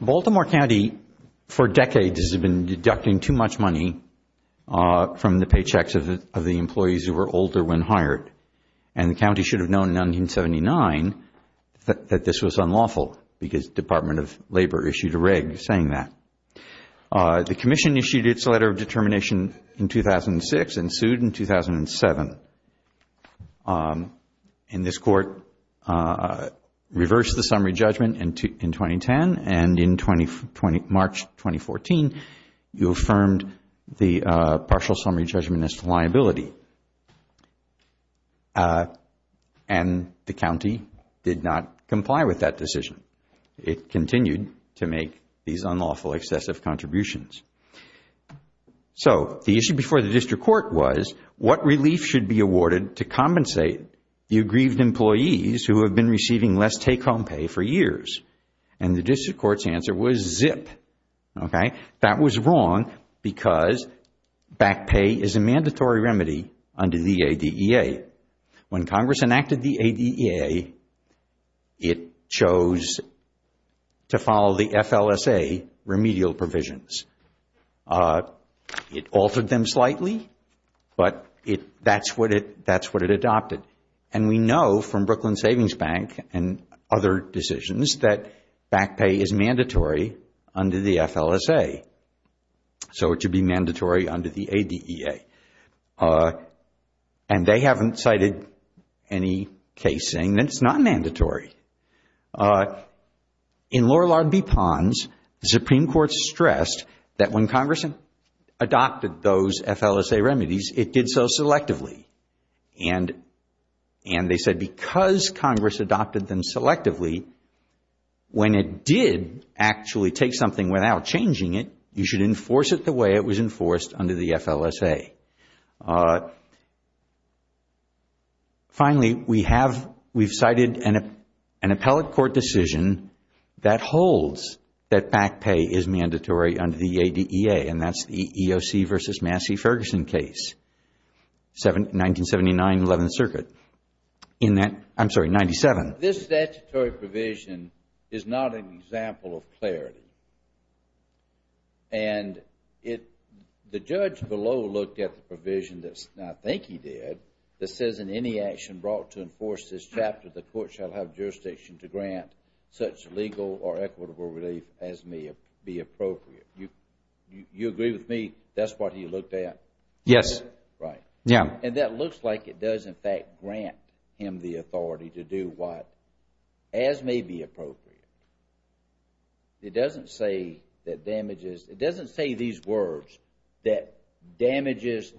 Baltimore County for decades has been deducting too much money from the paychecks of the employees who were older when hired, and the County should have known in 1979 that this was unlawful because the Department of Labor issued a reg saying that. The Commission issued its letter of determination in 2006 and sued in 2007. And this Court reversed the summary judgment in 2010, and in March 2014, you affirmed the partial summary judgment as liability, and the County did not comply with that decision. It continued to make these unlawful excessive contributions. So the issue before the District Court was what relief should be awarded to compensate the aggrieved employees who have been receiving less take-home pay for years? And the District Court's answer was zip. That was wrong because back pay is a mandatory remedy under the ADEA. When Congress enacted the ADEA, it chose to follow the FLSA remedial provisions. It altered them slightly, but that's what it adopted. And we know from Brooklyn Savings Bank and other decisions that back pay is mandatory under the FLSA. So it should be mandatory under the ADEA. And they haven't cited any case saying that it's not mandatory. In Lorillard v. Ponds, the Supreme Court stressed that when Congress adopted those FLSA remedies, it did so selectively. And they said because Congress adopted them selectively, when it did actually take something without changing it, you should enforce it the way it was enforced under the FLSA. Finally, we have cited an appellate court decision that holds that back pay is mandatory under the ADEA, and that's the EOC v. Massey-Ferguson case, 1979, 11th Circuit. In that, I'm sorry, 97. This statutory provision is not an example of clarity. And the judge below looked at the provision that I think he did that says in any action brought to enforce this chapter, the court shall have jurisdiction to grant such legal or equitable relief as may be appropriate. You agree with me that's what he looked at? Yes. Right. Yeah. And that looks like it does, in fact, grant him the authority to do what as may be appropriate. It doesn't say that damages, it doesn't say these words that damages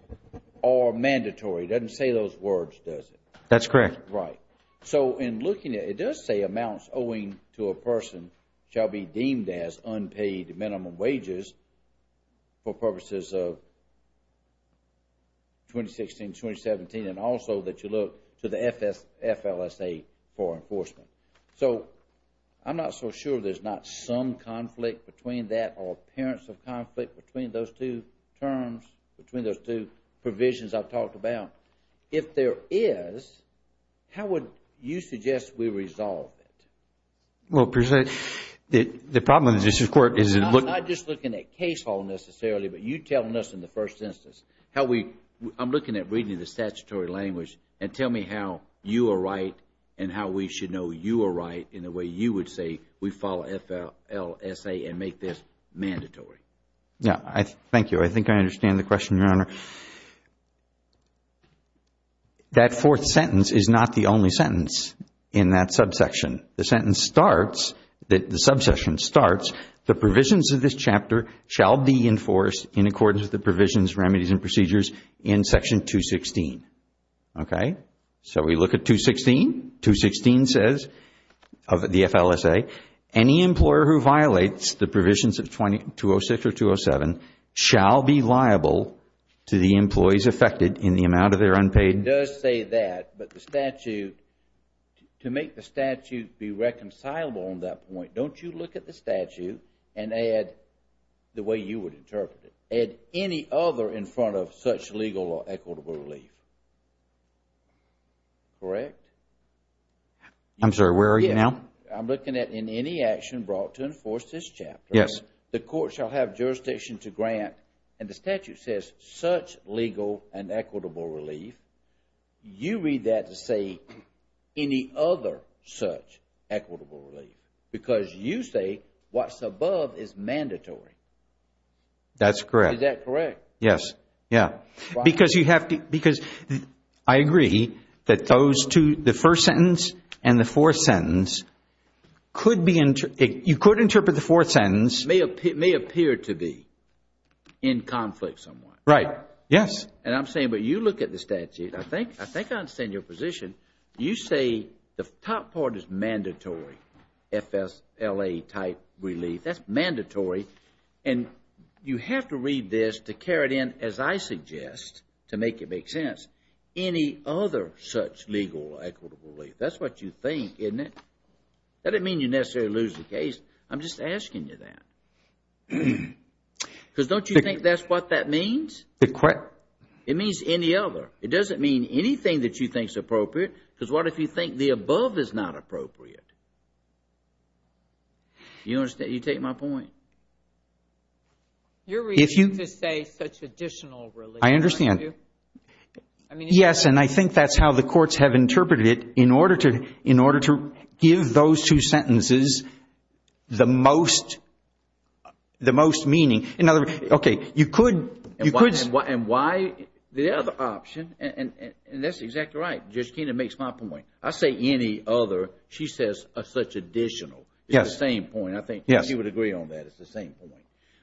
are mandatory. It doesn't say those words, does it? That's correct. Right. So in looking at it, it does say amounts owing to a person shall be deemed as unpaid minimum wages for purposes of 2016, 2017, and also that you look to the FLSA for enforcement. So I'm not so sure there's not some conflict between that or appearance of conflict between those two terms, between those two provisions I've talked about. If there is, how would you suggest we resolve it? Well, the problem with the district court is it looks... I'm not just looking at case hall necessarily, but you're telling us in the first instance how we... I'm looking at reading the statutory language and tell me how you are right and how we should know you are right in the way you would say we follow FLSA and make this mandatory. Yeah. Thank you. I think I understand the question, Your Honor. That fourth sentence is not the only sentence in that subsection. The sentence starts, the subsection starts, the provisions of this chapter shall be enforced in accordance with the provisions, remedies, and procedures in Section 216. Okay? So we look at 216. 216 says, of the FLSA, any employer who violates the provisions of 206 or 207 shall be liable to the employees affected in the amount of their unpaid... It does say that, but the statute, to make the statute be reconcilable on that point, don't you look at the statute and add, the way you would interpret it, add any other in front of such legal or equitable relief. Correct? I'm sorry. Where are you now? I'm looking at, in any action brought to enforce this chapter, the court shall have jurisdiction to grant, and the statute says, such legal and equitable relief. You read that to say any other such equitable relief because you say what's above is mandatory. That's correct. Is that correct? Yes. Yeah. Because you have to, because I agree that those two, the first sentence and the fourth sentence could be, you could interpret the fourth sentence... May appear to be in conflict somewhat. Right. Yes. And I'm saying, but you look at the statute. I think I understand your position. You say the top part is mandatory, FSLA type relief. That's mandatory. And you have to read this to carry it in, as I suggest, to make it make sense. Any other such legal or equitable relief. That's what you think, isn't it? That doesn't mean you necessarily lose the case. I'm just asking you that. Because don't you think that's what that means? It means any other. It doesn't mean anything that you think is appropriate because what if you think the above is not appropriate? You understand? I get my point. You're reading to say such additional relief. I understand. I mean... Yes. And I think that's how the courts have interpreted it in order to give those two sentences the most meaning. In other words, okay. You could... And why the other option, and that's exactly right, Judge Keenan makes my point. I say any other. She says such additional. Yes. It's the same point, I think. Yes. She would agree on that. It's the same point.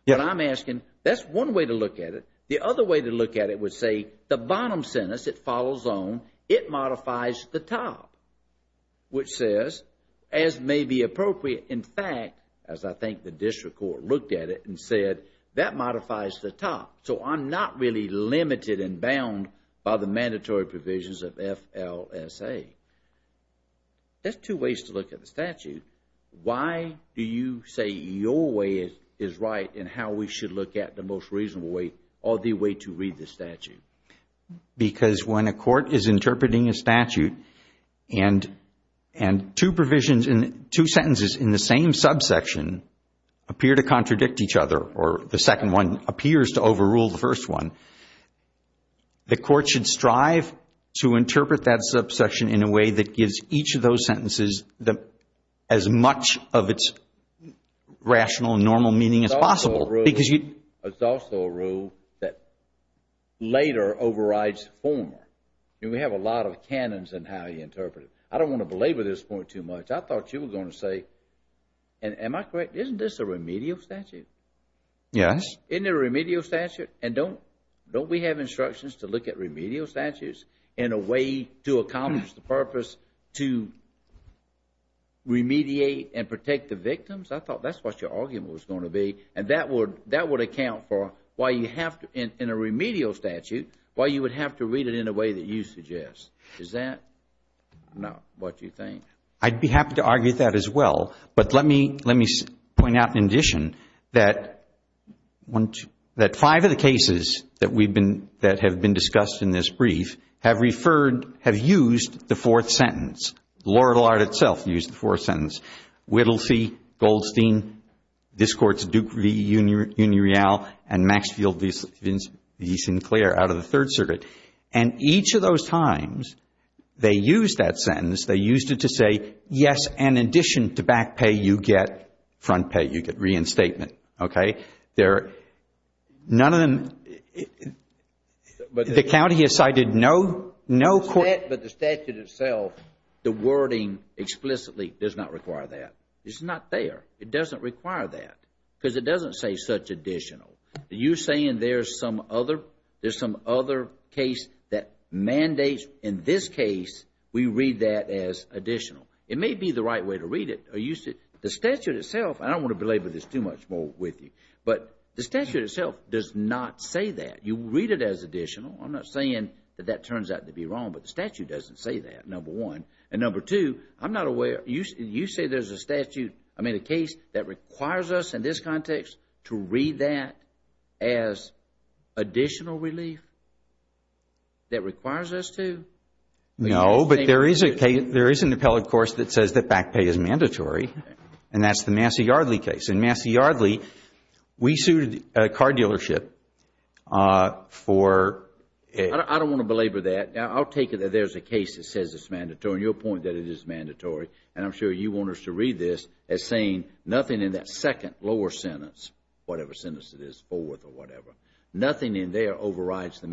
Yes. But I'm asking, that's one way to look at it. The other way to look at it would say the bottom sentence, it follows on, it modifies the top, which says, as may be appropriate. In fact, as I think the district court looked at it and said, that modifies the top. So I'm not really limited and bound by the mandatory provisions of FLSA. That's two ways to look at the statute. Why do you say your way is right and how we should look at the most reasonable way or the way to read the statute? Because when a court is interpreting a statute and two provisions in two sentences in the same subsection appear to contradict each other or the second one appears to overrule the first one, the court should strive to interpret that subsection in a way that gives each of those sentences as much of its rational and normal meaning as possible. It's also a rule that later overrides former. We have a lot of canons in how you interpret it. I don't want to belabor this point too much. I thought you were going to say, and am I correct, isn't this a remedial statute? Yes. Isn't it a remedial statute? And don't we have instructions to look at remedial statutes in a way to accomplish the to remediate and protect the victims? I thought that's what your argument was going to be. And that would account for why you have to, in a remedial statute, why you would have to read it in a way that you suggest. Is that not what you think? I'd be happy to argue that as well. But let me point out in addition that five of the cases that have been discussed in this sentence, Laurel Art itself used the fourth sentence, Whittlesey, Goldstein, this Court's Duke v. Union Real, and Maxfield v. Sinclair out of the Third Circuit. And each of those times they used that sentence, they used it to say, yes, and in addition to back pay, you get front pay, you get reinstatement, okay? None of them, the county has cited no court. But the statute itself, the wording explicitly does not require that. It's not there. It doesn't require that because it doesn't say such additional. You're saying there's some other case that mandates, in this case, we read that as additional. It may be the right way to read it. The statute itself, I don't want to belabor this too much more with you, but the statute itself does not say that. You read it as additional. I'm not saying that that turns out to be wrong, but the statute doesn't say that, number one. And number two, I'm not aware, you say there's a statute, I mean a case that requires us in this context to read that as additional relief? That requires us to? No, but there is an appellate course that says that back pay is mandatory, and that's the Massey-Yardley case. In Massey-Yardley, we sued a car dealership for... I don't want to belabor that. I'll take it that there's a case that says it's mandatory, and your point that it is mandatory, and I'm sure you want us to read this as saying nothing in that second lower sentence, whatever sentence it is, Fort Worth or whatever, nothing in there overrides the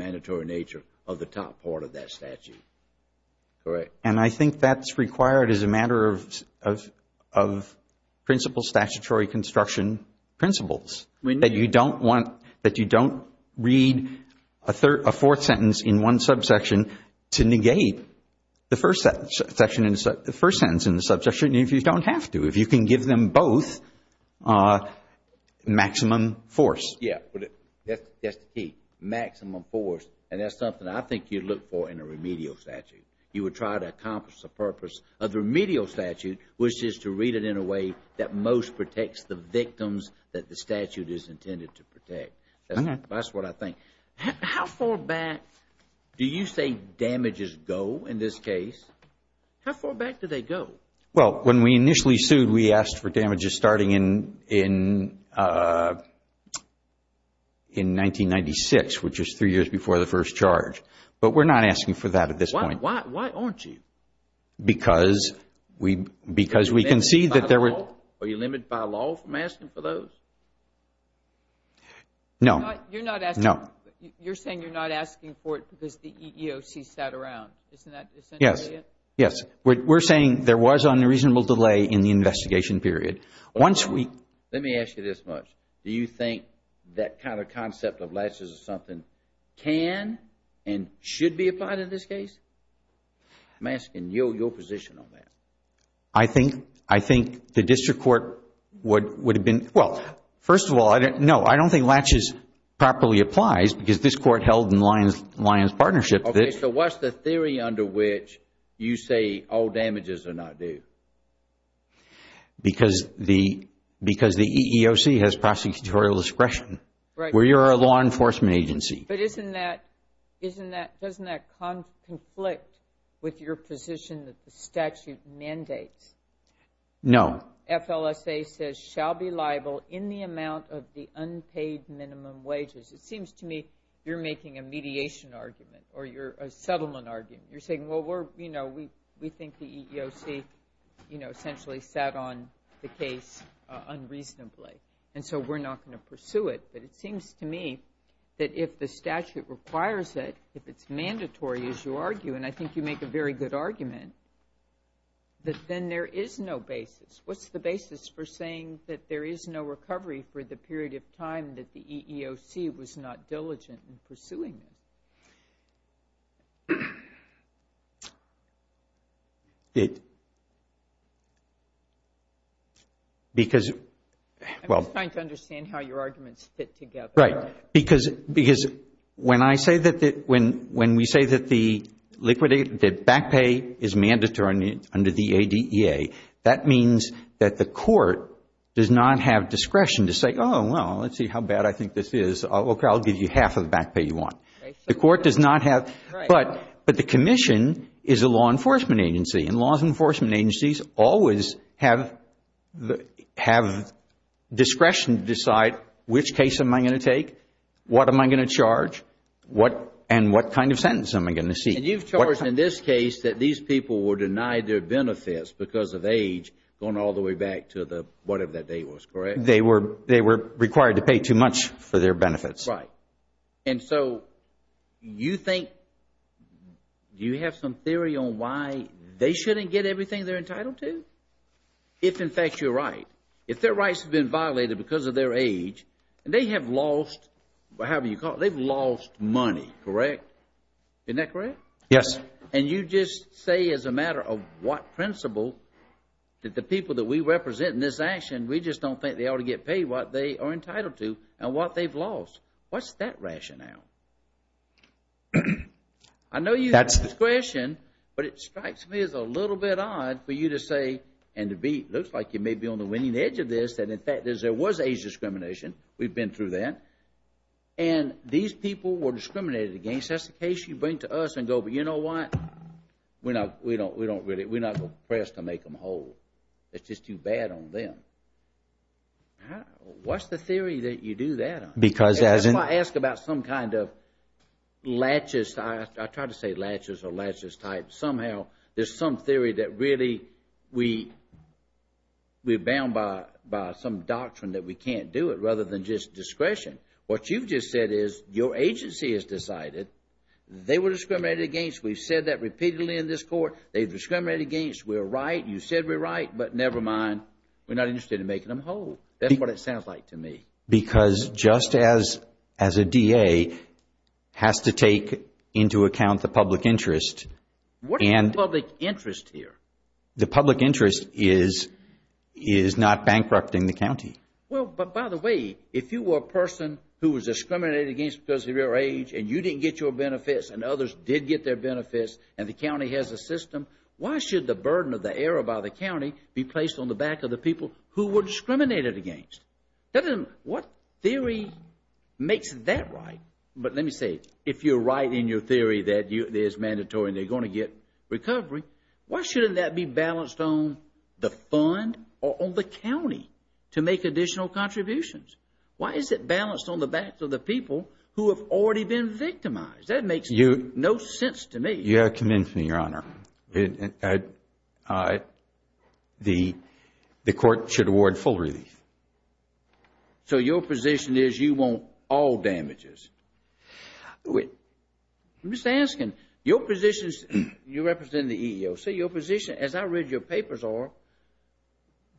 correct. And I think that's required as a matter of principle statutory construction principles, that you don't want, that you don't read a fourth sentence in one subsection to negate the first sentence in the subsection if you don't have to, if you can give them both maximum force. Yeah, but that's the key, maximum force, and that's something I think you'd look for in a remedial statute. You would try to accomplish the purpose of the remedial statute, which is to read it in a way that most protects the victims that the statute is intended to protect. That's what I think. How far back do you say damages go in this case? How far back do they go? Well, when we initially sued, we asked for damages starting in 1996, which is three years before the first charge. But we're not asking for that at this point. Why aren't you? Because we can see that there were... Are you limited by law from asking for those? No. You're not asking... No. You're saying you're not asking for it because the EEOC sat around. Isn't that... Yes. Yes. We're saying there was unreasonable delay in the investigation period. Once we... Let me ask you this much. Do you think that kind of concept of latches or something can and should be applied in this case? I'm asking your position on that. I think the district court would have been... Well, first of all, no. I don't think latches properly applies because this court held in Lyons Partnership that... Okay. So what's the theory under which you say all damages are not due? Because the EEOC has prosecutorial discretion. Right. We are a law enforcement agency. But isn't that... Doesn't that conflict with your position that the statute mandates? No. FLSA says shall be liable in the amount of the unpaid minimum wages. It seems to me you're making a mediation argument or a settlement argument. You're saying, well, we think the EEOC essentially sat on the case unreasonably. And so we're not going to pursue it. But it seems to me that if the statute requires it, if it's mandatory, as you argue, and I think you make a very good argument, that then there is no basis. What's the basis for saying that there is no recovery for the period of time that the EEOC was not diligent in pursuing it? I'm just trying to understand how your arguments fit together. Right. Because when we say that the back pay is mandatory under the ADEA, that means that the court does not have discretion to say, oh, well, let's see how bad I think this is. I'll give you half of the back pay you want. The court does not have. Right. But the commission is a law enforcement agency. And law enforcement agencies always have discretion to decide which case am I going to take, what am I going to charge, and what kind of sentence am I going to seek. And you've charged in this case that these people were denied their benefits because of age going all the way back to whatever that date was, correct? They were required to pay too much for their benefits. Right. And so you think, do you have some theory on why they shouldn't get everything they're entitled to? If, in fact, you're right. If their rights have been violated because of their age, and they have lost money, correct? Isn't that correct? Yes. And you just say as a matter of what principle that the people that we represent in this action, we just don't think they ought to get paid what they are entitled to and what they've lost. What's that rationale? I know you have discretion, but it strikes me as a little bit odd for you to say, and it looks like you may be on the winning edge of this, that in fact there was age discrimination. We've been through that. And these people were discriminated against. That's the case you bring to us and go, but you know what? We're not going to press to make them whole. It's just too bad on them. What's the theory that you do that on? If I ask about some kind of latches, I try to say latches or latches type, somehow there's some theory that really we're bound by some doctrine that we can't do it rather than just discretion. What you've just said is your agency has decided they were discriminated against. We've said that repeatedly in this court. They've discriminated against. We're right. You said we're right, but never mind. We're not interested in making them whole. That's what it sounds like to me. Because just as a DA has to take into account the public interest. What is the public interest here? The public interest is not bankrupting the county. By the way, if you were a person who was discriminated against because of your age and you didn't get your benefits and others did get their benefits and the county has a system, why should the burden of the error by the county be placed on the back of the people who were discriminated against? What theory makes that right? But let me say, if you're right in your theory that it is mandatory and they're going to get recovery, why shouldn't that be balanced on the fund or on the county to make additional contributions? Why is it balanced on the back of the people who have already been victimized? That makes no sense to me. You have convinced me, Your Honor. The court should award full relief. So your position is you want all damages? I'm just asking. Your position is, you represent the EEOC. Your position, as I read your papers,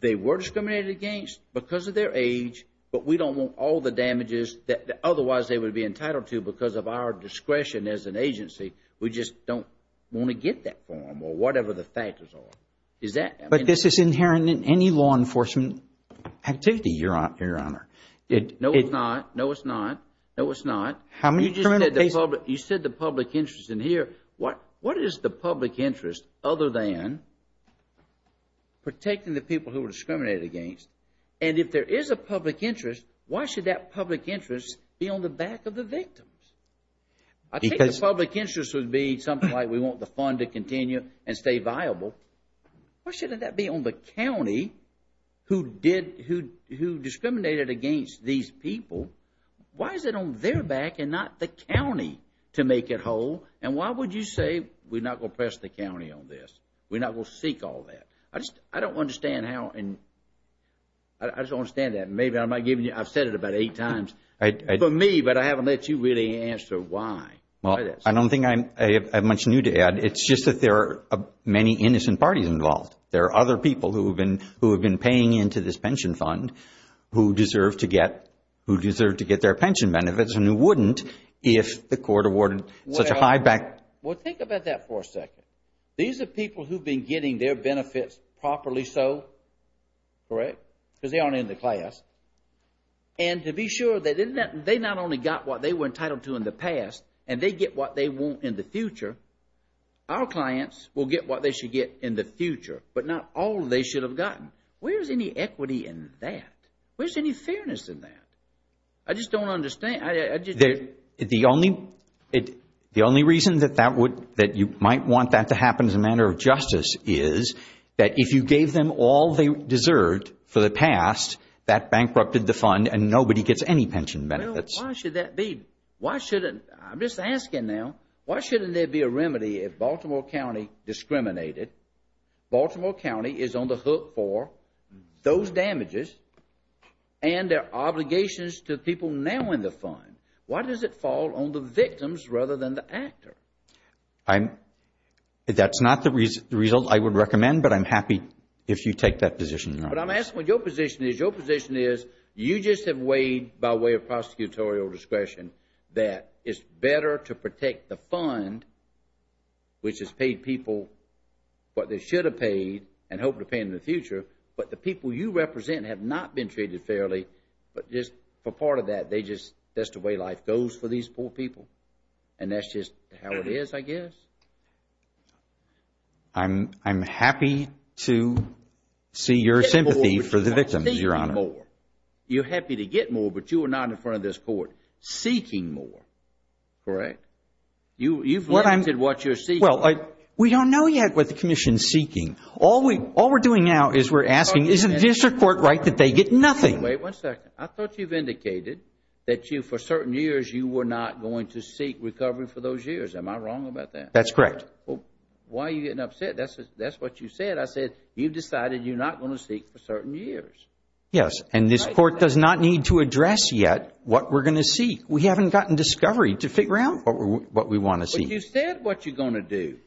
they were discriminated against because of their age, but we don't want all the damages that otherwise they would be entitled to because of our discretion as an agency. We just don't want to get that form or whatever the factors are. But this is inherent in any law enforcement activity, Your Honor. No, it's not. No, it's not. No, it's not. How many criminal cases? You said the public interest in here. What is the public interest other than protecting the people who were discriminated against? And if there is a public interest, why should that public interest be on the back of the victims? I think the public interest would be something like we want the fund to continue and stay viable. Why shouldn't that be on the county who discriminated against these people? Why is it on their back and not the county to make it whole? And why would you say we're not going to press the county on this? We're not going to seek all that? I don't understand how and I just don't understand that. I've said it about eight times for me, but I haven't let you really answer why. Well, I don't think I have much new to add. It's just that there are many innocent parties involved. There are other people who have been paying into this pension fund who deserve to get their pension benefits and who wouldn't if the court awarded such a high back. Well, think about that for a second. These are people who've been getting their benefits properly so, correct? Because they aren't in the class. And to be sure that they not only got what they were entitled to in the past and they get what they want in the future, our clients will get what they should get in the future, but not all they should have gotten. Where's any equity in that? Where's any fairness in that? I just don't understand. The only reason that you might want that to happen as a matter of justice is that if you deserved for the past, that bankrupted the fund and nobody gets any pension benefits. Well, why should that be? Why shouldn't? I'm just asking now. Why shouldn't there be a remedy if Baltimore County discriminated? Baltimore County is on the hook for those damages and their obligations to the people now in the fund. Why does it fall on the victims rather than the actor? That's not the result I would recommend, but I'm happy if you take that position now. But I'm asking what your position is. Your position is you just have weighed by way of prosecutorial discretion that it's better to protect the fund, which has paid people what they should have paid and hope to pay in the future, but the people you represent have not been treated fairly, but just for part of that, they just, that's the way life goes for these poor people. And that's just how it is, I guess. I'm happy to see your sympathy for the victims, Your Honor. You're happy to get more, but you are not in front of this court seeking more, correct? You've limited what you're seeking. Well, we don't know yet what the commission is seeking. All we're doing now is we're asking, is the district court right that they get nothing? Wait one second. I thought you've indicated that you, for certain years, you were not going to seek recovery for those years. Am I wrong about that? That's correct. Well, why are you getting upset? That's what you said. I said you've decided you're not going to seek for certain years. Yes, and this court does not need to address yet what we're going to seek. We haven't gotten discovery to figure out what we want to seek. But you said what you're going to do.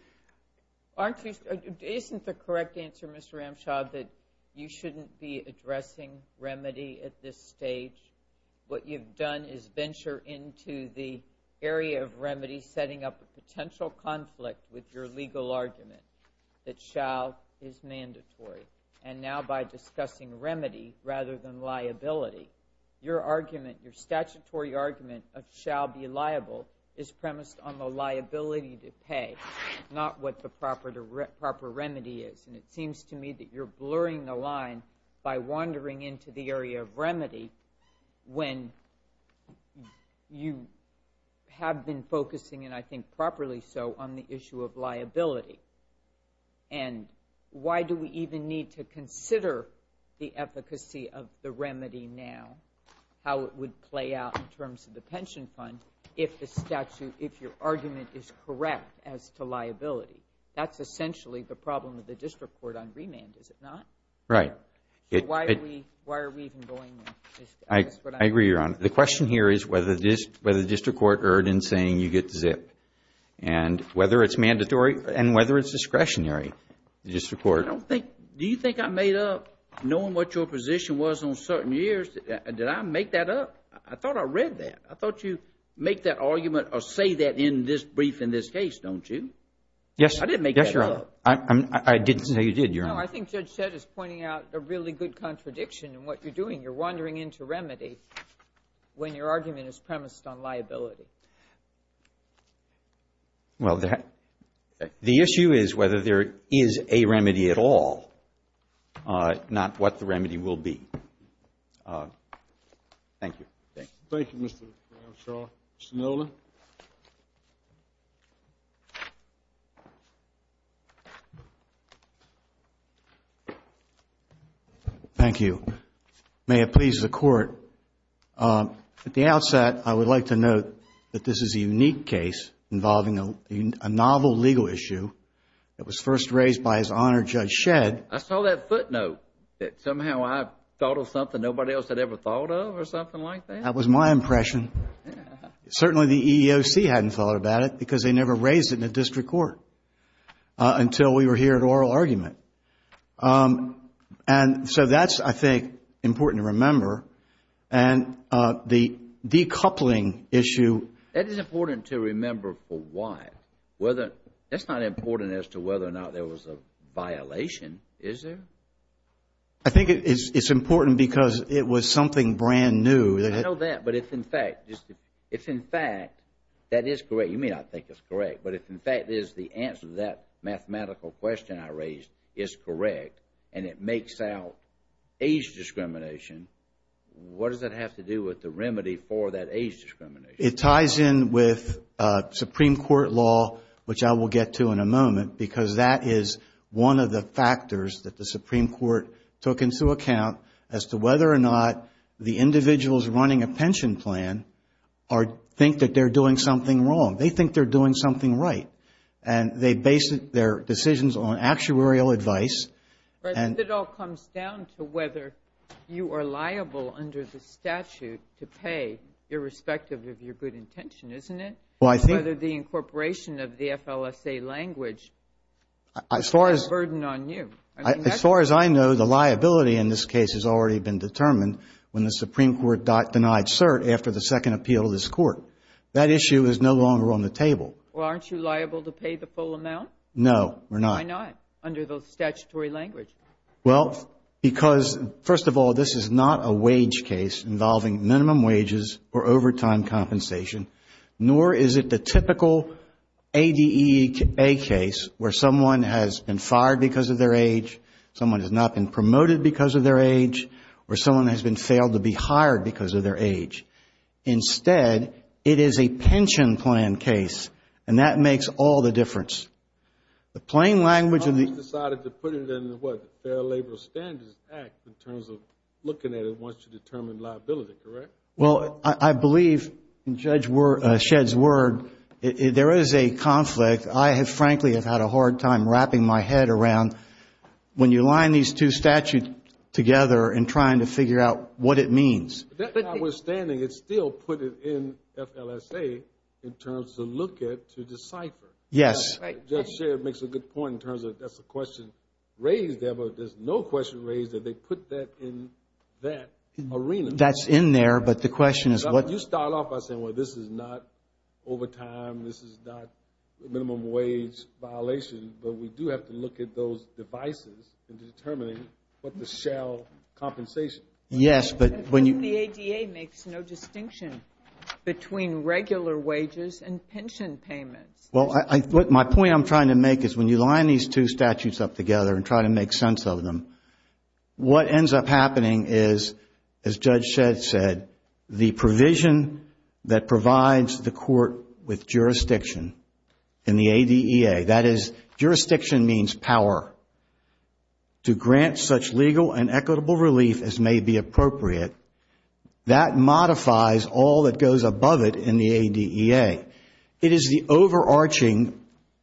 Aren't you, isn't the correct answer, Mr. Ramshaw, that you shouldn't be addressing remedy at this stage? What you've done is venture into the area of remedy, setting up a potential conflict with your legal argument that shall is mandatory. And now by discussing remedy rather than liability, your argument, your statutory argument of shall be liable is premised on the liability to pay, not what the proper remedy is. And it seems to me that you're blurring the line by wandering into the area of remedy when you have been focusing, and I think properly so, on the issue of liability. And why do we even need to consider the efficacy of the remedy now, how it would play out in terms of the pension fund if the statute, if your argument is correct as to liability? That's essentially the problem with the district court on remand, is it not? Right. Why are we even going there? I agree, Your Honor. The question here is whether the district court erred in saying you get to zip. And whether it's mandatory and whether it's discretionary, the district court. I don't think, do you think I made up, knowing what your position was on certain years, did I make that up? I thought I read that. I thought you make that argument or say that in this brief in this case, don't you? Yes. I didn't make that up. Yes, Your Honor. I didn't say you did, Your Honor. No, I think Judge Shedd is pointing out a really good contradiction in what you're doing. You're wandering into remedy when your argument is premised on liability. Well, the issue is whether there is a remedy at all, not what the remedy will be. Thank you. Thank you, Mr. Brownshaw. Mr. Nolan? Thank you. May it please the Court. At the outset, I would like to note that this is a unique case involving a novel legal issue that was first raised by His Honor Judge Shedd. I saw that footnote that somehow I thought of something nobody else had ever thought of or something like that. That was my impression. Certainly, the EEOC hadn't thought about it because they never raised it in a district court until we were here at oral argument. That's, I think, important to remember. The decoupling issue... That is important to remember for why. That's not important as to whether or not there was a violation, is there? I think it's important because it was something brand new. I know that, but if in fact, that is correct. You may not think it's correct, but if in fact the answer to that mathematical question I raised is correct and it makes out age discrimination, what does that have to do with the remedy for that age discrimination? It ties in with Supreme Court law, which I will get to in a moment, because that is one of the factors that the Supreme Court took into account as to whether or not the individuals running a pension plan think that they're doing something wrong. They think they're doing something right. They base their decisions on actuarial advice. It all comes down to whether you are liable under the statute to pay, irrespective of your good intention, isn't it? Whether the incorporation of the FLSA language puts that burden on you. As far as I know, the liability in this case has already been determined when the Supreme Court denied cert after the second appeal of this Court. That issue is no longer on the table. Well, aren't you liable to pay the full amount? No, we're not. Why not, under the statutory language? Well, because first of all, this is not a wage case involving minimum wages or overtime compensation, nor is it the typical ADEA case where someone has been fired because of their age, someone has not been promoted because of their age, or someone has been failed to be hired because of their age. Instead, it is a pension plan case, and that makes all the difference. The plain language of the... The Congress decided to put it in the Fair Labor Standards Act in terms of looking at it once you determine liability, correct? Well, I believe, in Judge Shedd's word, there is a conflict. I have frankly had a hard time wrapping my head around when you line these two statutes together in trying to figure out what it means. That notwithstanding, it still put it in FLSA in terms to look at to decipher. Yes. Judge Shedd makes a good point in terms of that's a question raised there, but there's no question raised that they put that in that arena. That's in there, but the question is what... You start off by saying, well, this is not overtime, this is not minimum wage violation, but we do have to look at those devices in determining what the shell compensation is. Yes, but when you... The ADA makes no distinction between regular wages and pension payments. Well, my point I'm trying to make is when you line these two statutes up together and try to make sense of them, what ends up happening is, as Judge Shedd said, the provision that jurisdiction means power to grant such legal and equitable relief as may be appropriate, that modifies all that goes above it in the ADEA. It is the overarching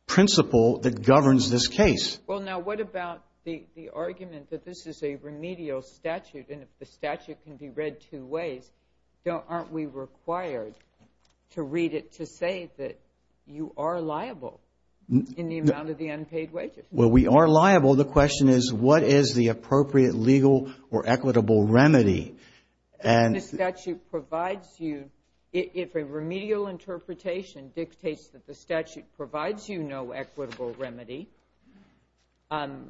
principle that governs this case. Well, now, what about the argument that this is a remedial statute, and if the statute can be read two ways, aren't we required to read it to say that you are liable in the amount of the unpaid wages? Well, we are liable. The question is what is the appropriate legal or equitable remedy? If the statute provides you... if a remedial interpretation dictates that the statute provides you no equitable remedy, and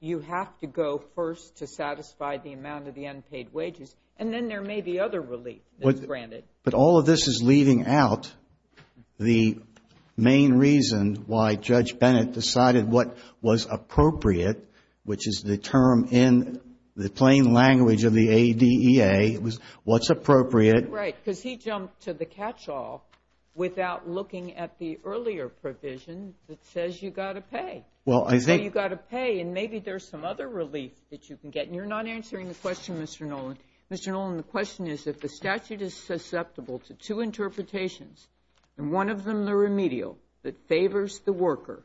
you have to go first to satisfy the amount of the unpaid wages, and then there may be other relief that's granted. But all of this is leaving out the main reason why Judge Bennett decided what was appropriate, which is the term in the plain language of the ADEA, was what's appropriate... Right, because he jumped to the catch-all without looking at the earlier provision that says you've got to pay. Well, I think... So you've got to pay, and maybe there's some other relief that you can get. And you're not answering the question, Mr. Nolan. Mr. Nolan, the question is if the statute is susceptible to two interpretations, and one of them the remedial that favors the worker,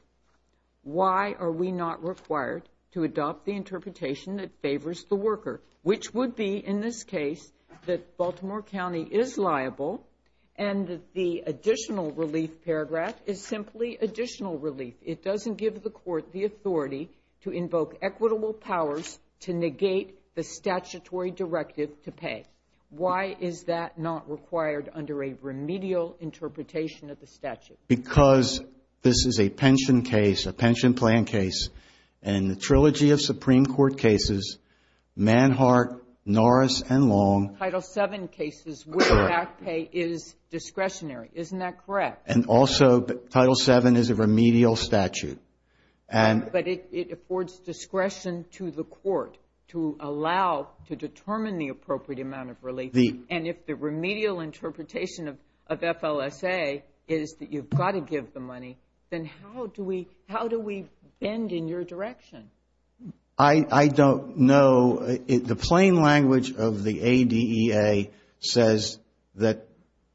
why are we not required to adopt the interpretation that favors the worker, which would be, in this case, that Baltimore County is liable and that the additional relief paragraph is simply additional relief. It doesn't give the court the authority to invoke equitable powers to negate the statutory directive to pay. Why is that not required under a remedial interpretation of the statute? Because this is a pension case, a pension plan case, and in the trilogy of Supreme Court cases, Manhart, Norris, and Long... Title VII cases where back pay is discretionary. Isn't that correct? And also, Title VII is a remedial statute. But it affords discretion to the court to allow, to determine the appropriate amount of relief. And if the remedial interpretation of FLSA is that you've got to give the money, then how do we bend in your direction? I don't know. The plain language of the ADEA says that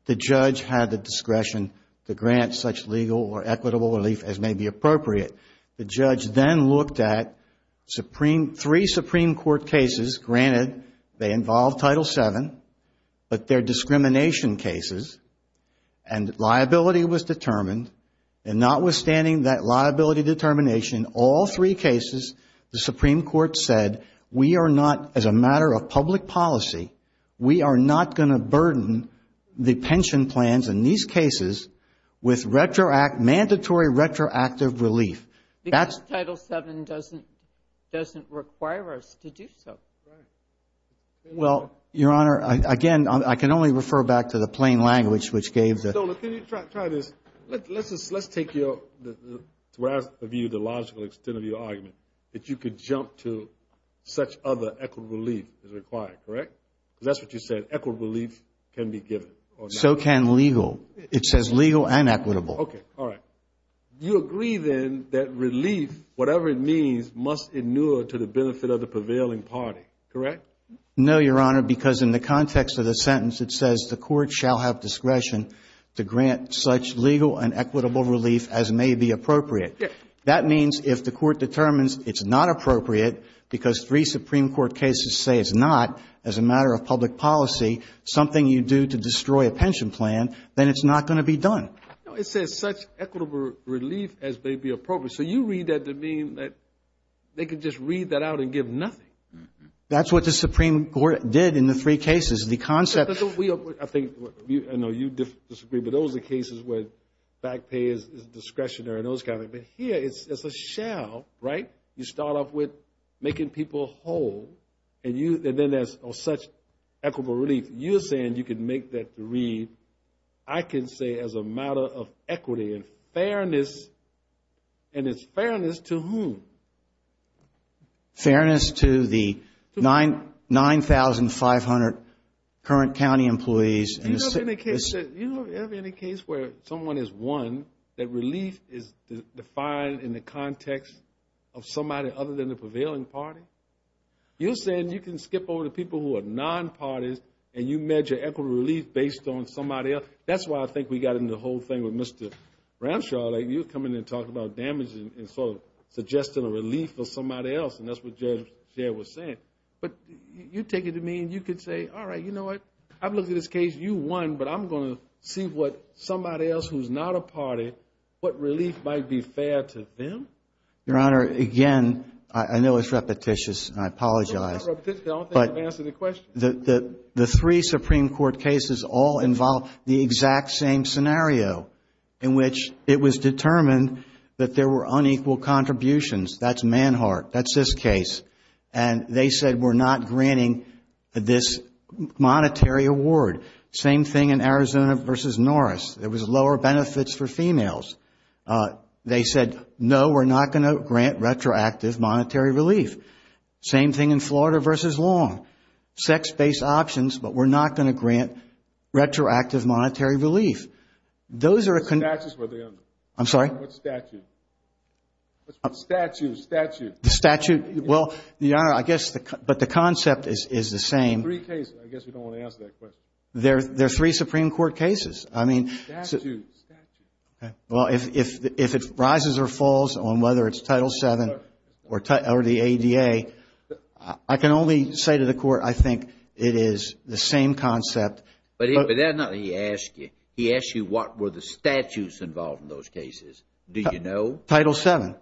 the judge had the discretion to grant such legal or equitable relief as may be appropriate. The judge then looked at three Supreme Court cases. Granted, they involve Title VII, but they're discrimination cases. And liability was determined. And notwithstanding that liability determination in all three cases, the Supreme Court said, we are not, as a matter of public policy, we are not going to burden the pension plans in these cases with mandatory retroactive relief. Because Title VII doesn't require us to do so. Right. Well, Your Honor, again, I can only refer back to the plain language which gave the... So, let me try this. Let's take your, to the logical extent of your argument, that you could jump to such other equitable relief as required, correct? Because that's what you said. Equitable relief can be given. So can legal. It says legal and equitable. Okay. All right. You agree, then, that relief, whatever it means, must inure to the benefit of the prevailing party, correct? No, Your Honor, because in the context of the sentence, it says the court shall have discretion to grant such legal and equitable relief as may be appropriate. Yes. That means if the court determines it's not appropriate, because three Supreme Court cases say it's not, as a matter of public policy, something you do to destroy a pension plan, then it's not going to be done. No, it says such equitable relief as may be appropriate. So you read that to mean that they could just read that out and give nothing. That's what the Supreme Court did in the three cases. The concept... I think, I know you disagree, but those are cases where back pay is discretionary and those kind of... But here, it's a shall, right? You start off with making people whole, and then there's such equitable relief. You're saying you can make that read, I can say, as a matter of equity and fairness, and it's fairness to whom? Fairness to the 9,500 current county employees. You don't have any case where someone is one, that relief is defined in the context of someone other than the prevailing party? You're saying you can skip over the people who are non-parties, and you measure equitable relief based on somebody else? That's why I think we got into the whole thing with Mr. Ramshaw. You come in and talk about damaging and sort of suggesting a relief for somebody else, and that's what Judge Jare was saying. But you take it to mean you could say, all right, you know what? I've looked at this case. You won, but I'm going to see what somebody else who's not a party, what relief might be fair to them? Your Honor, again, I know it's repetitious, and I apologize. It's not repetitious. I don't think you've answered the question. The three Supreme Court cases all involve the exact same scenario in which it was determined that there were unequal contributions. That's Manhart. That's this case. And they said, we're not granting this monetary award. Same thing in Arizona versus Norris. There was lower benefits for females. They said, no, we're not going to grant retroactive monetary relief. Same thing in Florida versus Long. Sex-based options, but we're not going to grant retroactive monetary relief. Those are a... What statutes were they under? I'm sorry? What statute? Statutes. Statutes. The statute. Well, Your Honor, I guess, but the concept is the same. Three cases. I guess we don't want to answer that question. There are three Supreme Court cases. I mean... Statutes. Statutes. Well, if it rises or falls on whether it's Title VII or the ADA, I can only say to the Court, I think it is the same concept. But that's not what he asked you. He asked you what were the statutes involved in those cases. Do you know? Title VII.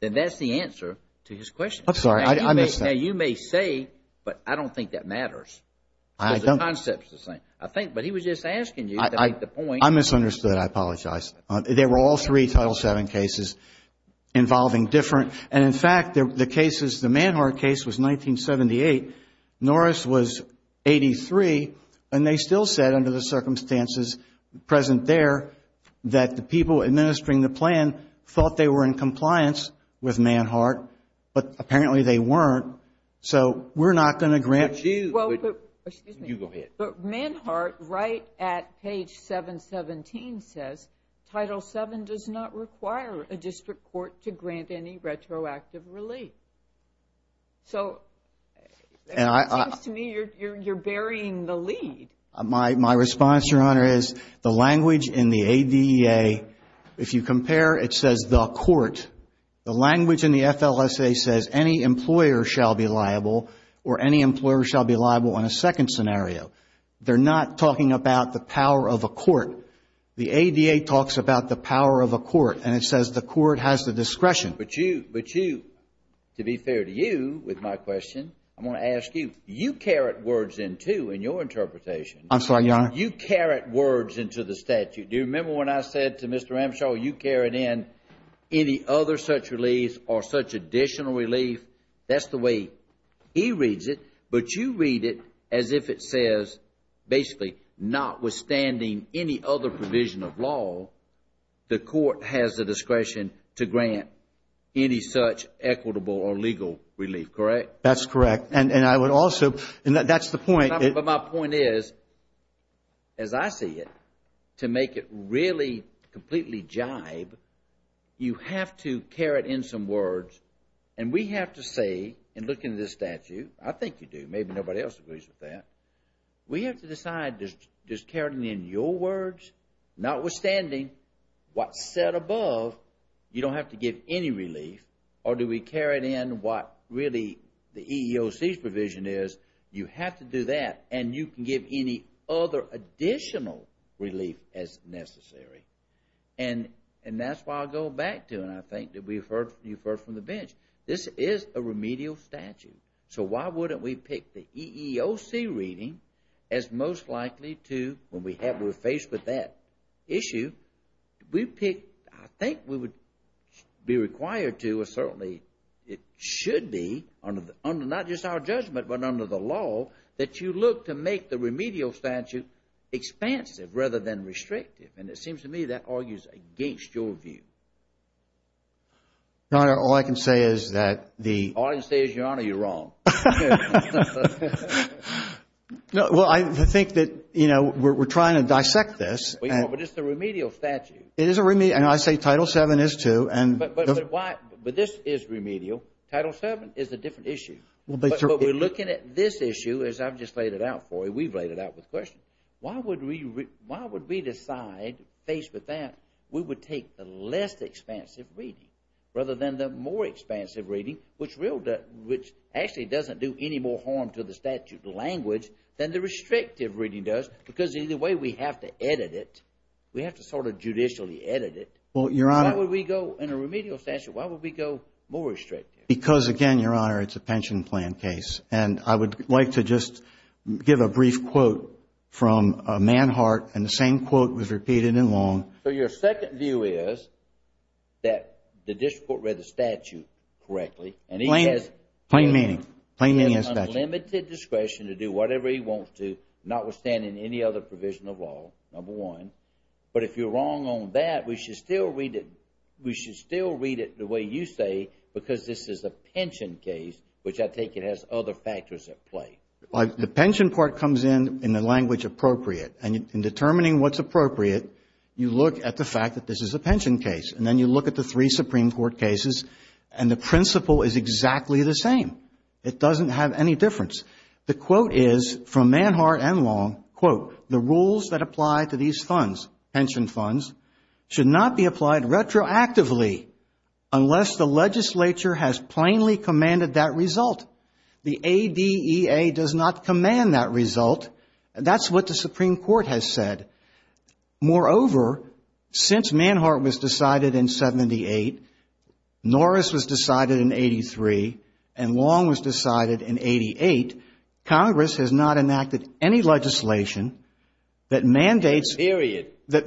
Then that's the answer to his question. I'm sorry. I missed that. Now, you may say, but I don't think that matters. I don't. Because the concept's the same. I think, but he was just asking you to make the point... I misunderstood. I apologize. There were all three Title VII cases involving different, and in fact, the cases, the Manhart case was 1978, Norris was 83, and they still said, under the circumstances present there, that the people administering the plan thought they were in compliance with Manhart, but apparently they weren't. So we're not going to grant you... Well, but... Excuse me. You go ahead. But Manhart, right at page 717, says, Title VII does not require a district court to grant any retroactive relief. So it seems to me you're burying the lead. My response, Your Honor, is the language in the ADA, if you compare, it says the court. The language in the FLSA says any employer shall be liable, or any employer shall be They're not talking about the power of a court. The ADA talks about the power of a court, and it says the court has the discretion. But you, to be fair to you, with my question, I'm going to ask you, you carrot words into, in your interpretation... I'm sorry, Your Honor? You carrot words into the statute. Do you remember when I said to Mr. Ramshaw, you carrot in any other such relief or such additional relief? That's the way he reads it. But you read it as if it says, basically, notwithstanding any other provision of law, the court has the discretion to grant any such equitable or legal relief, correct? That's correct. And I would also... And that's the point. But my point is, as I see it, to make it really completely jibe, you have to carrot in some say, in looking at this statute, I think you do, maybe nobody else agrees with that, we have to decide, does carroting in your words, notwithstanding what's said above, you don't have to give any relief? Or do we carrot in what really the EEOC's provision is? You have to do that, and you can give any other additional relief as necessary. And that's why I go back to, and I think that we've heard, you've heard from the bench, this is a remedial statute. So why wouldn't we pick the EEOC reading as most likely to, when we're faced with that issue, we pick, I think we would be required to, or certainly it should be, under not just our judgment, but under the law, that you look to make the remedial statute expansive rather than restrictive. And it seems to me that argues against your view. Your Honor, all I can say is that the... All I can say is, Your Honor, you're wrong. No, well, I think that, you know, we're trying to dissect this. But it's the remedial statute. It is a remedial, and I say Title VII is too, and... But this is remedial. Title VII is a different issue. But we're looking at this issue, as I've just laid it out for you, we've laid it out with questions. Why would we decide, faced with that, we would take the less expansive reading rather than the more expansive reading, which actually doesn't do any more harm to the statute language than the restrictive reading does? Because either way, we have to edit it. We have to sort of judicially edit it. Well, Your Honor... Why would we go, in a remedial statute, why would we go more restrictive? Because, again, Your Honor, it's a pension plan case. And I would like to just give a brief quote from Manhart, and the same quote was repeated in Long. So your second view is that the district court read the statute correctly, and he has... Plain meaning. Plain meaning in the statute. He has unlimited discretion to do whatever he wants to, notwithstanding any other provision of law, number one. But if you're wrong on that, we should still read it the way you say, because this is a The pension part comes in, in the language appropriate. And in determining what's appropriate, you look at the fact that this is a pension case. And then you look at the three Supreme Court cases, and the principle is exactly the same. It doesn't have any difference. The quote is, from Manhart and Long, quote, The rules that apply to these funds, pension funds, should not be applied retroactively unless the legislature has plainly commanded that result. The ADEA does not command that result. That's what the Supreme Court has said. Moreover, since Manhart was decided in 78, Norris was decided in 83, and Long was decided in 88, Congress has not enacted any legislation that mandates... Period. They've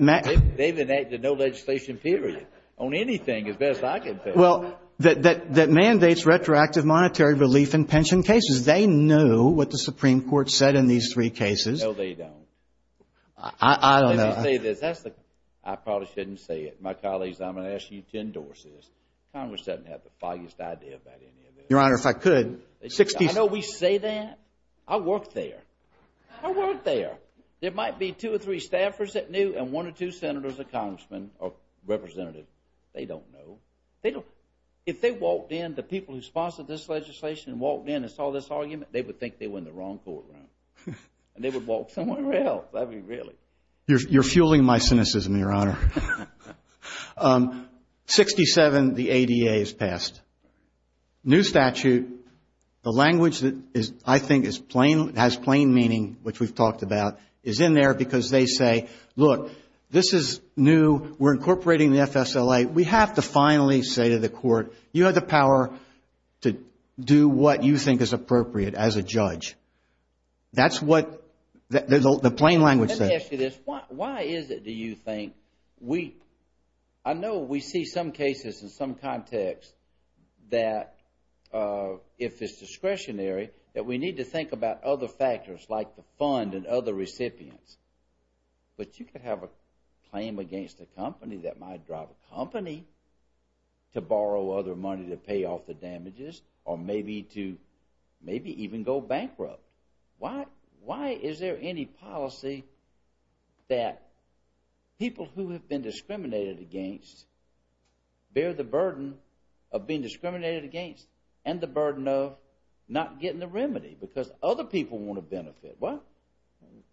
enacted no legislation, period, on anything, as best I can think of. Well, that mandates retroactive monetary relief in pension cases. They know what the Supreme Court said in these three cases. No, they don't. I don't know. I probably shouldn't say it. My colleagues, I'm going to ask you to endorse this. Congress doesn't have the foggiest idea about any of this. Your Honor, if I could... I know we say that. I work there. I work there. There might be two or three staffers that knew, and one or two senators or congressmen or representatives. They don't know. If they walked in, the people who sponsored this legislation and walked in and saw this argument, they would think they were in the wrong courtroom, and they would walk somewhere else. I mean, really. You're fueling my cynicism, Your Honor. 67, the ADA is passed. New statute, the language that I think has plain meaning, which we've talked about, is in there because they say, look, this is new. We're incorporating the FSLA. We have to finally say to the court, you have the power to do what you think is appropriate as a judge. That's what the plain language says. Let me ask you this. Why is it, do you think, I know we see some cases in some context that if it's discretionary, that we need to think about other factors like the fund and other recipients, but you could have a claim against a company that might drive a company to borrow other money to pay off the damages or maybe to even go bankrupt. Why is there any policy that people who have been discriminated against bear the burden of being discriminated against and the burden of not getting the remedy because other people want to benefit?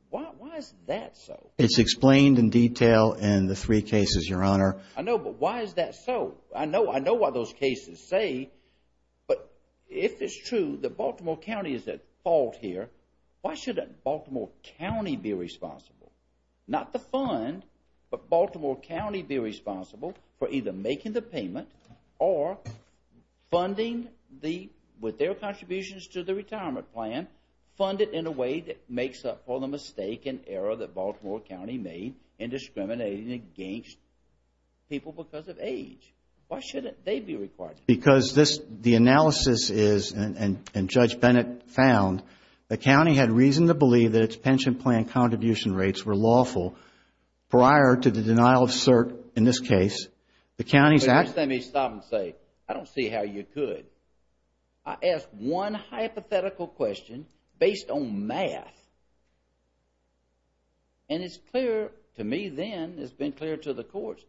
Why is that so? It's explained in detail in the three cases, Your Honor. I know, but why is that so? I know what those cases say, but if it's true that Baltimore County is at fault here, why shouldn't Baltimore County be responsible, not the fund, but Baltimore County be responsible for either making the payment or funding with their contributions to the retirement plan, funded in a way that makes up for the mistake and error that Baltimore County made in discriminating against people because of age? Why shouldn't they be required? Because the analysis is, and Judge Bennett found, the county had reason to believe that its pension plan contribution rates were lawful prior to the denial of cert in this case. The county's act... Let me stop and say, I don't see how you could. I asked one hypothetical question based on math, and it's clear to me then, it's been clear to the courts,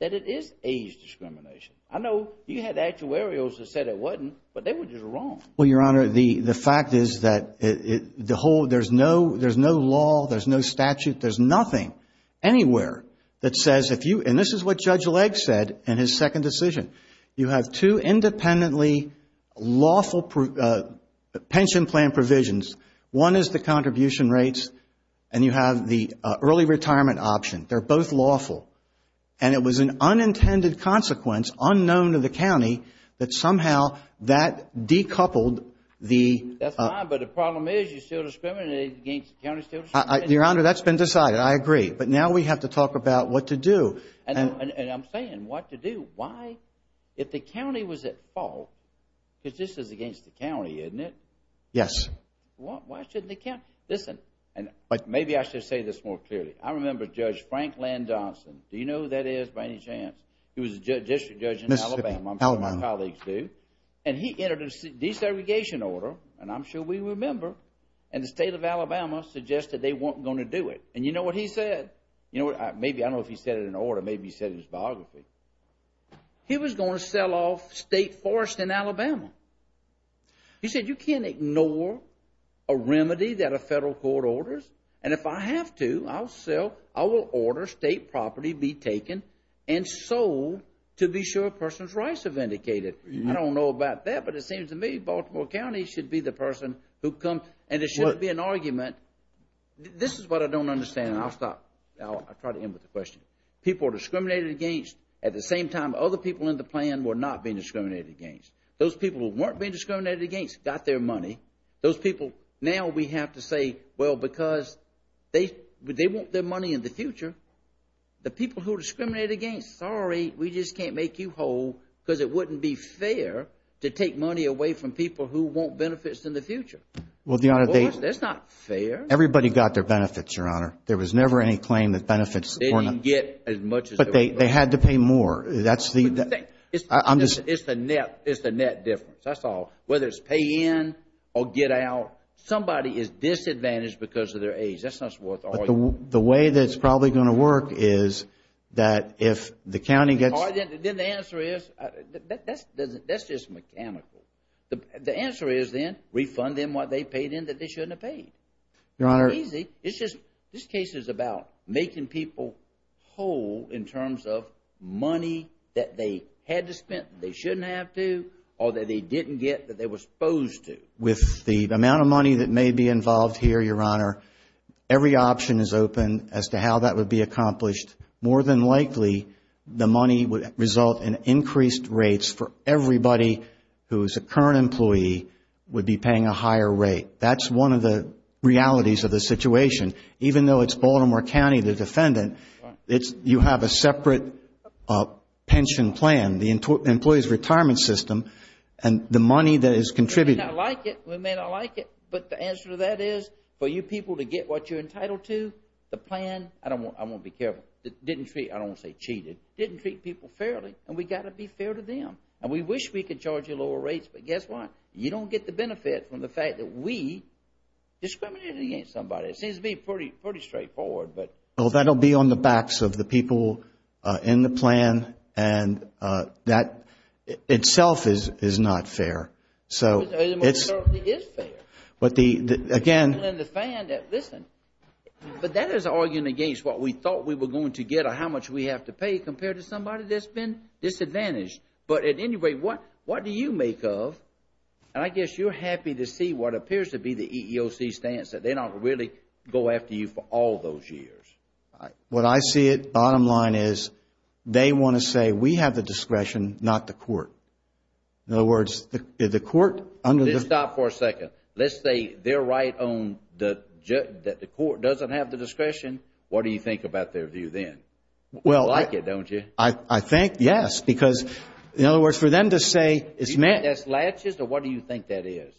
that it is age discrimination. I know you had actuarials that said it wasn't, but they were just wrong. Well, Your Honor, the fact is that there's no law, there's no statute, there's nothing anywhere that says if you, and this is what Judge Legge said in his second decision, you have two independently lawful pension plan provisions. One is the contribution rates, and you have the early retirement option. They're both lawful. And it was an unintended consequence, unknown to the county, that somehow that decoupled the... That's fine, but the problem is you're still discriminating against the county. Your Honor, that's been decided, I agree. But now we have to talk about what to do. And I'm saying what to do. Why, if the county was at fault, because this is against the county, isn't it? Yes. Why shouldn't the county... Listen, and maybe I should say this more clearly. I remember Judge Franklin Johnson. Do you know who that is by any chance? He was a district judge in Alabama. Alabama. I'm sure my colleagues do. And he entered a desegregation order, and I'm sure we remember, and the state of Alabama suggested they weren't going to do it. And you know what he said? I don't know if he said it in order. Maybe he said it in his biography. He was going to sell off state forest in Alabama. He said, you can't ignore a remedy that a federal court orders. And if I have to, I will order state property be taken and sold to be sure a person's rights are vindicated. I don't know about that, but it seems to me Baltimore County should be the person who comes... And it shouldn't be an argument. This is what I don't understand, and I'll stop. I'll try to end with the question. People are discriminated against at the same time other people in the plan were not being discriminated against. Those people who weren't being discriminated against got their money. Those people... Now we have to say, well, because they want their money in the future. The people who are discriminated against, sorry, we just can't make you whole because That's not fair. Everybody got their benefits, Your Honor. There was never any claim that benefits were not... They didn't get as much as... But they had to pay more. That's the... It's the net difference. That's all. Whether it's pay in or get out, somebody is disadvantaged because of their age. That's not worth all... The way that it's probably going to work is that if the county gets... Then the answer is... That's just mechanical. The answer is then, refund them what they paid in that they shouldn't have paid. Your Honor... It's not easy. It's just... This case is about making people whole in terms of money that they had to spend that they shouldn't have to or that they didn't get that they were supposed to. With the amount of money that may be involved here, Your Honor, every option is open as to how that would be accomplished. More than likely, the money would result in increased rates for everybody who is a current employee would be paying a higher rate. That's one of the realities of the situation. Even though it's Baltimore County, the defendant, you have a separate pension plan, the employee's retirement system, and the money that is contributed... We may not like it. We may not like it. But the answer to that is, for you people to get what you're entitled to, the plan... I want to be careful. Didn't treat... I don't want to say cheated. Didn't treat people fairly. And we've got to be fair to them. And we wish we could charge you lower rates, but guess what? You don't get the benefit from the fact that we discriminated against somebody. It seems to be pretty straightforward, but... Well, that will be on the backs of the people in the plan. And that itself is not fair. So it's... It certainly is fair. But the... Again... Listen, but that is arguing against what we thought we were going to get or how much we have to pay compared to somebody that's been disadvantaged. But at any rate, what do you make of, and I guess you're happy to see what appears to be the EEOC stance, that they don't really go after you for all those years. What I see at the bottom line is they want to say we have the discretion, not the court. In other words, the court under the... Let's stop for a second. Let's say they're right on that the court doesn't have the discretion. What do you think about their view then? Well, I... You like it, don't you? I think, yes, because, in other words, for them to say it's meant... Do you think that's laches, or what do you think that is?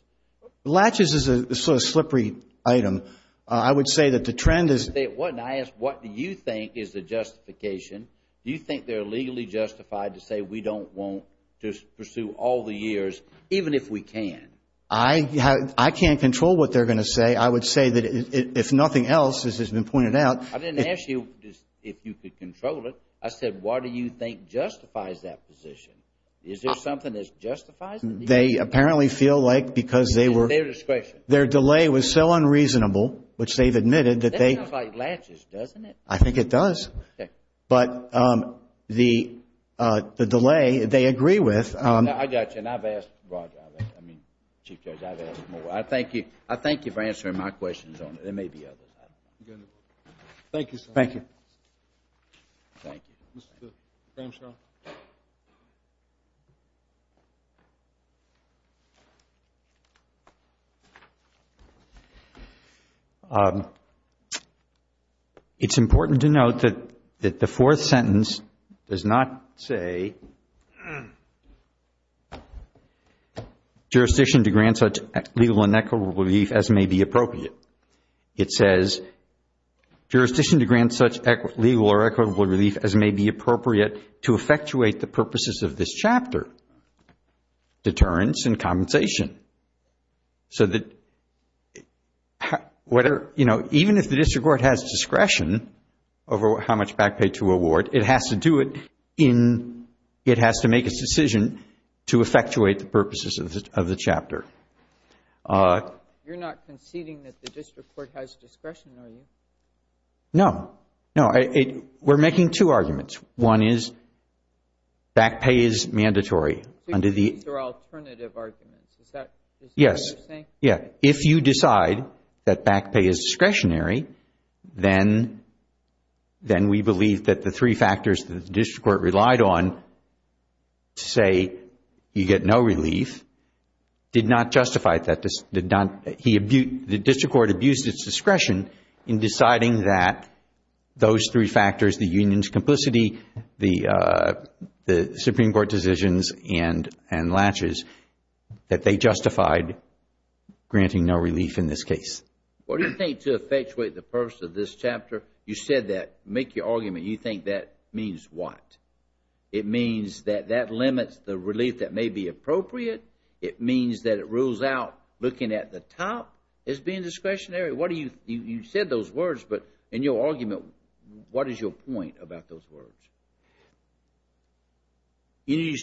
Laches is a sort of slippery item. I would say that the trend is... When I ask what do you think is the justification, do you think they're legally justified to say we don't want to pursue all the years, even if we can? I can't control what they're going to say. I would say that if nothing else, as has been pointed out... I didn't ask you if you could control it. I said what do you think justifies that position. Is there something that justifies it? They apparently feel like because they were... It's their discretion. Their delay was so unreasonable, which they've admitted, that they... That sounds like laches, doesn't it? I think it does. Okay. But the delay they agree with... I got you, and I've asked Roger. I mean, Chief Judge, I've asked more. I thank you for answering my questions on it. There may be others. Thank you, sir. Thank you. Thank you. Mr. Cramshaw. Mr. Cramshaw. It's important to note that the fourth sentence does not say, jurisdiction to grant such legal and equitable relief as may be appropriate. It says, jurisdiction to grant such legal or equitable relief as may be appropriate to effectuate the purposes of this chapter, deterrence and compensation. So even if the district court has discretion over how much back pay to award, it has to do it in... It has to make a decision to effectuate the purposes of the chapter. You're not conceding that the district court has discretion, are you? No. No. We're making two arguments. One is back pay is mandatory under the... These are alternative arguments. Is that what you're saying? Yes. Yeah. If you decide that back pay is discretionary, then we believe that the three factors that the district court relied on, to say you get no relief, did not justify that. The district court abused its discretion in deciding that those three factors, the union's complicity, the Supreme Court decisions and latches, that they justified granting no relief in this case. What do you think to effectuate the purpose of this chapter? You said that. Make your argument. You think that means what? It means that that limits the relief that may be appropriate. It means that it rules out looking at the top as being discretionary. You said those words, but in your argument, what is your point about those words?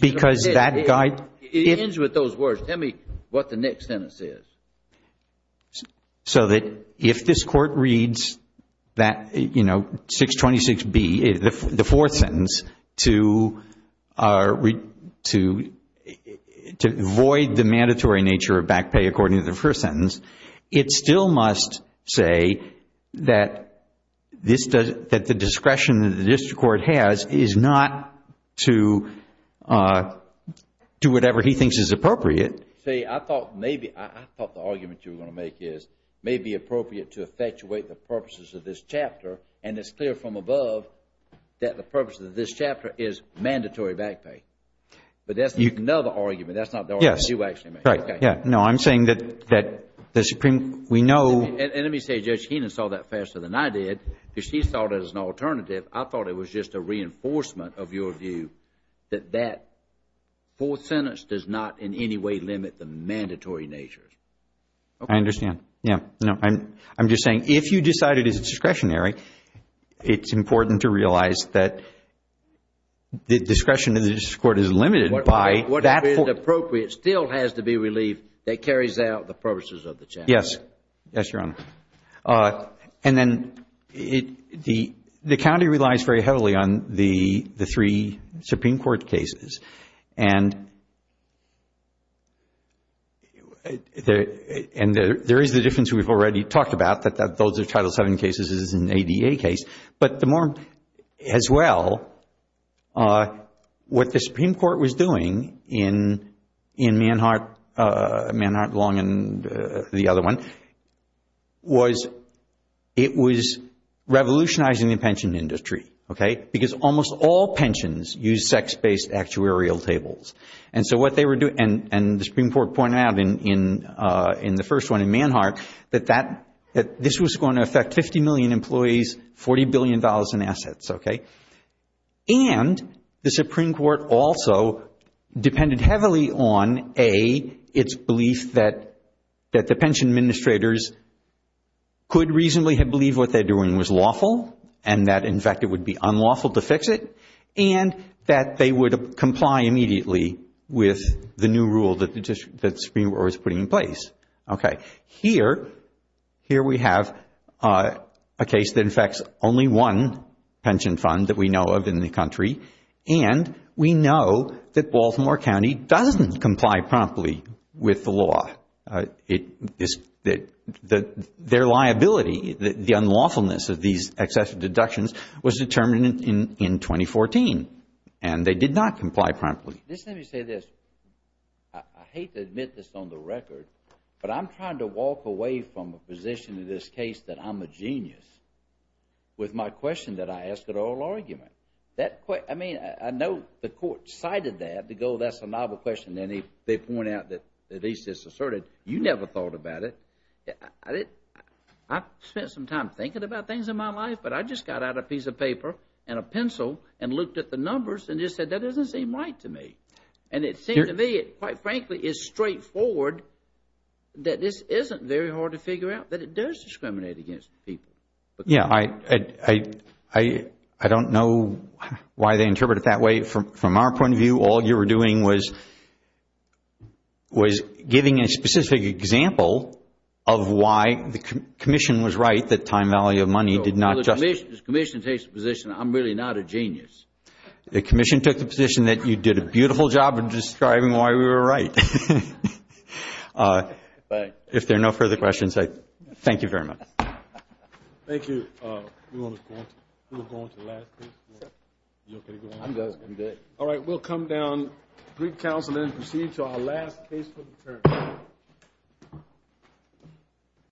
Because that guide... It ends with those words. Tell me what the next sentence is. So that if this court reads that 626B, the fourth sentence, to avoid the mandatory nature of back pay according to the first sentence, it still must say that the discretion that the district court has is not to do whatever he thinks is appropriate. See, I thought maybe, I thought the argument you were going to make is may be appropriate to effectuate the purposes of this chapter, and it's clear from above that the purpose of this chapter is mandatory back pay. But that's another argument. That's not the argument you actually made. Yes. Right. No, I'm saying that the Supreme, we know... And let me say Judge Heenan saw that faster than I did, because she saw it as an alternative. I thought it was just a reinforcement of your view that that fourth sentence does not in any way limit the mandatory natures. I understand. Yeah. No, I'm just saying if you decided it's discretionary, it's important to realize that the discretion of the district court is limited by... Whatever is appropriate still has to be relieved that carries out the purposes of the chapter. Yes. Yes, Your Honor. And then the county relies very heavily on the three Supreme Court cases. And there is the difference we've already talked about, that those are Title VII cases, this is an ADA case. But the more, as well, what the Supreme Court was doing in Manhart, Manhart, Long, and the other one, was it was revolutionizing the pension industry. Because almost all pensions use sex-based actuarial tables. And so what they were doing, and the Supreme Court pointed out in the first one in Manhart, that this was going to affect 50 million employees, $40 billion in assets. And the Supreme Court also depended heavily on, A, its belief that the pension administrators could reasonably believe what they're doing was lawful, and that, in fact, it would be unlawful to fix it, and that they would comply immediately with the new rule that the Supreme Court was putting in place. Okay. Here, here we have a case that affects only one pension fund that we know of in the country, and we know that Baltimore County doesn't comply promptly with the law. Their liability, the unlawfulness of these excessive deductions, was determined in 2014, and they did not comply promptly. Let me say this. I hate to admit this on the record, but I'm trying to walk away from a position in this case that I'm a genius, with my question that I ask at oral argument. I mean, I know the court cited that to go, that's a novel question, and they point out that at least it's asserted. You never thought about it. I've spent some time thinking about things in my life, but I just got out a piece of paper and a pencil and looked at the numbers and just said that doesn't seem right to me. And it seemed to me, quite frankly, it's straightforward that this isn't very hard to figure out, that it does discriminate against people. Yeah, I don't know why they interpret it that way. From our point of view, all you were doing was giving a specific example of why the Commission was right that time value of money did not justify. No, no, the Commission takes the position that I'm really not a genius. The Commission took the position that you did a beautiful job of describing why we were right. If there are no further questions, I thank you very much. Thank you. All right, we'll come down, greet counsel, and then proceed to our last case for the term.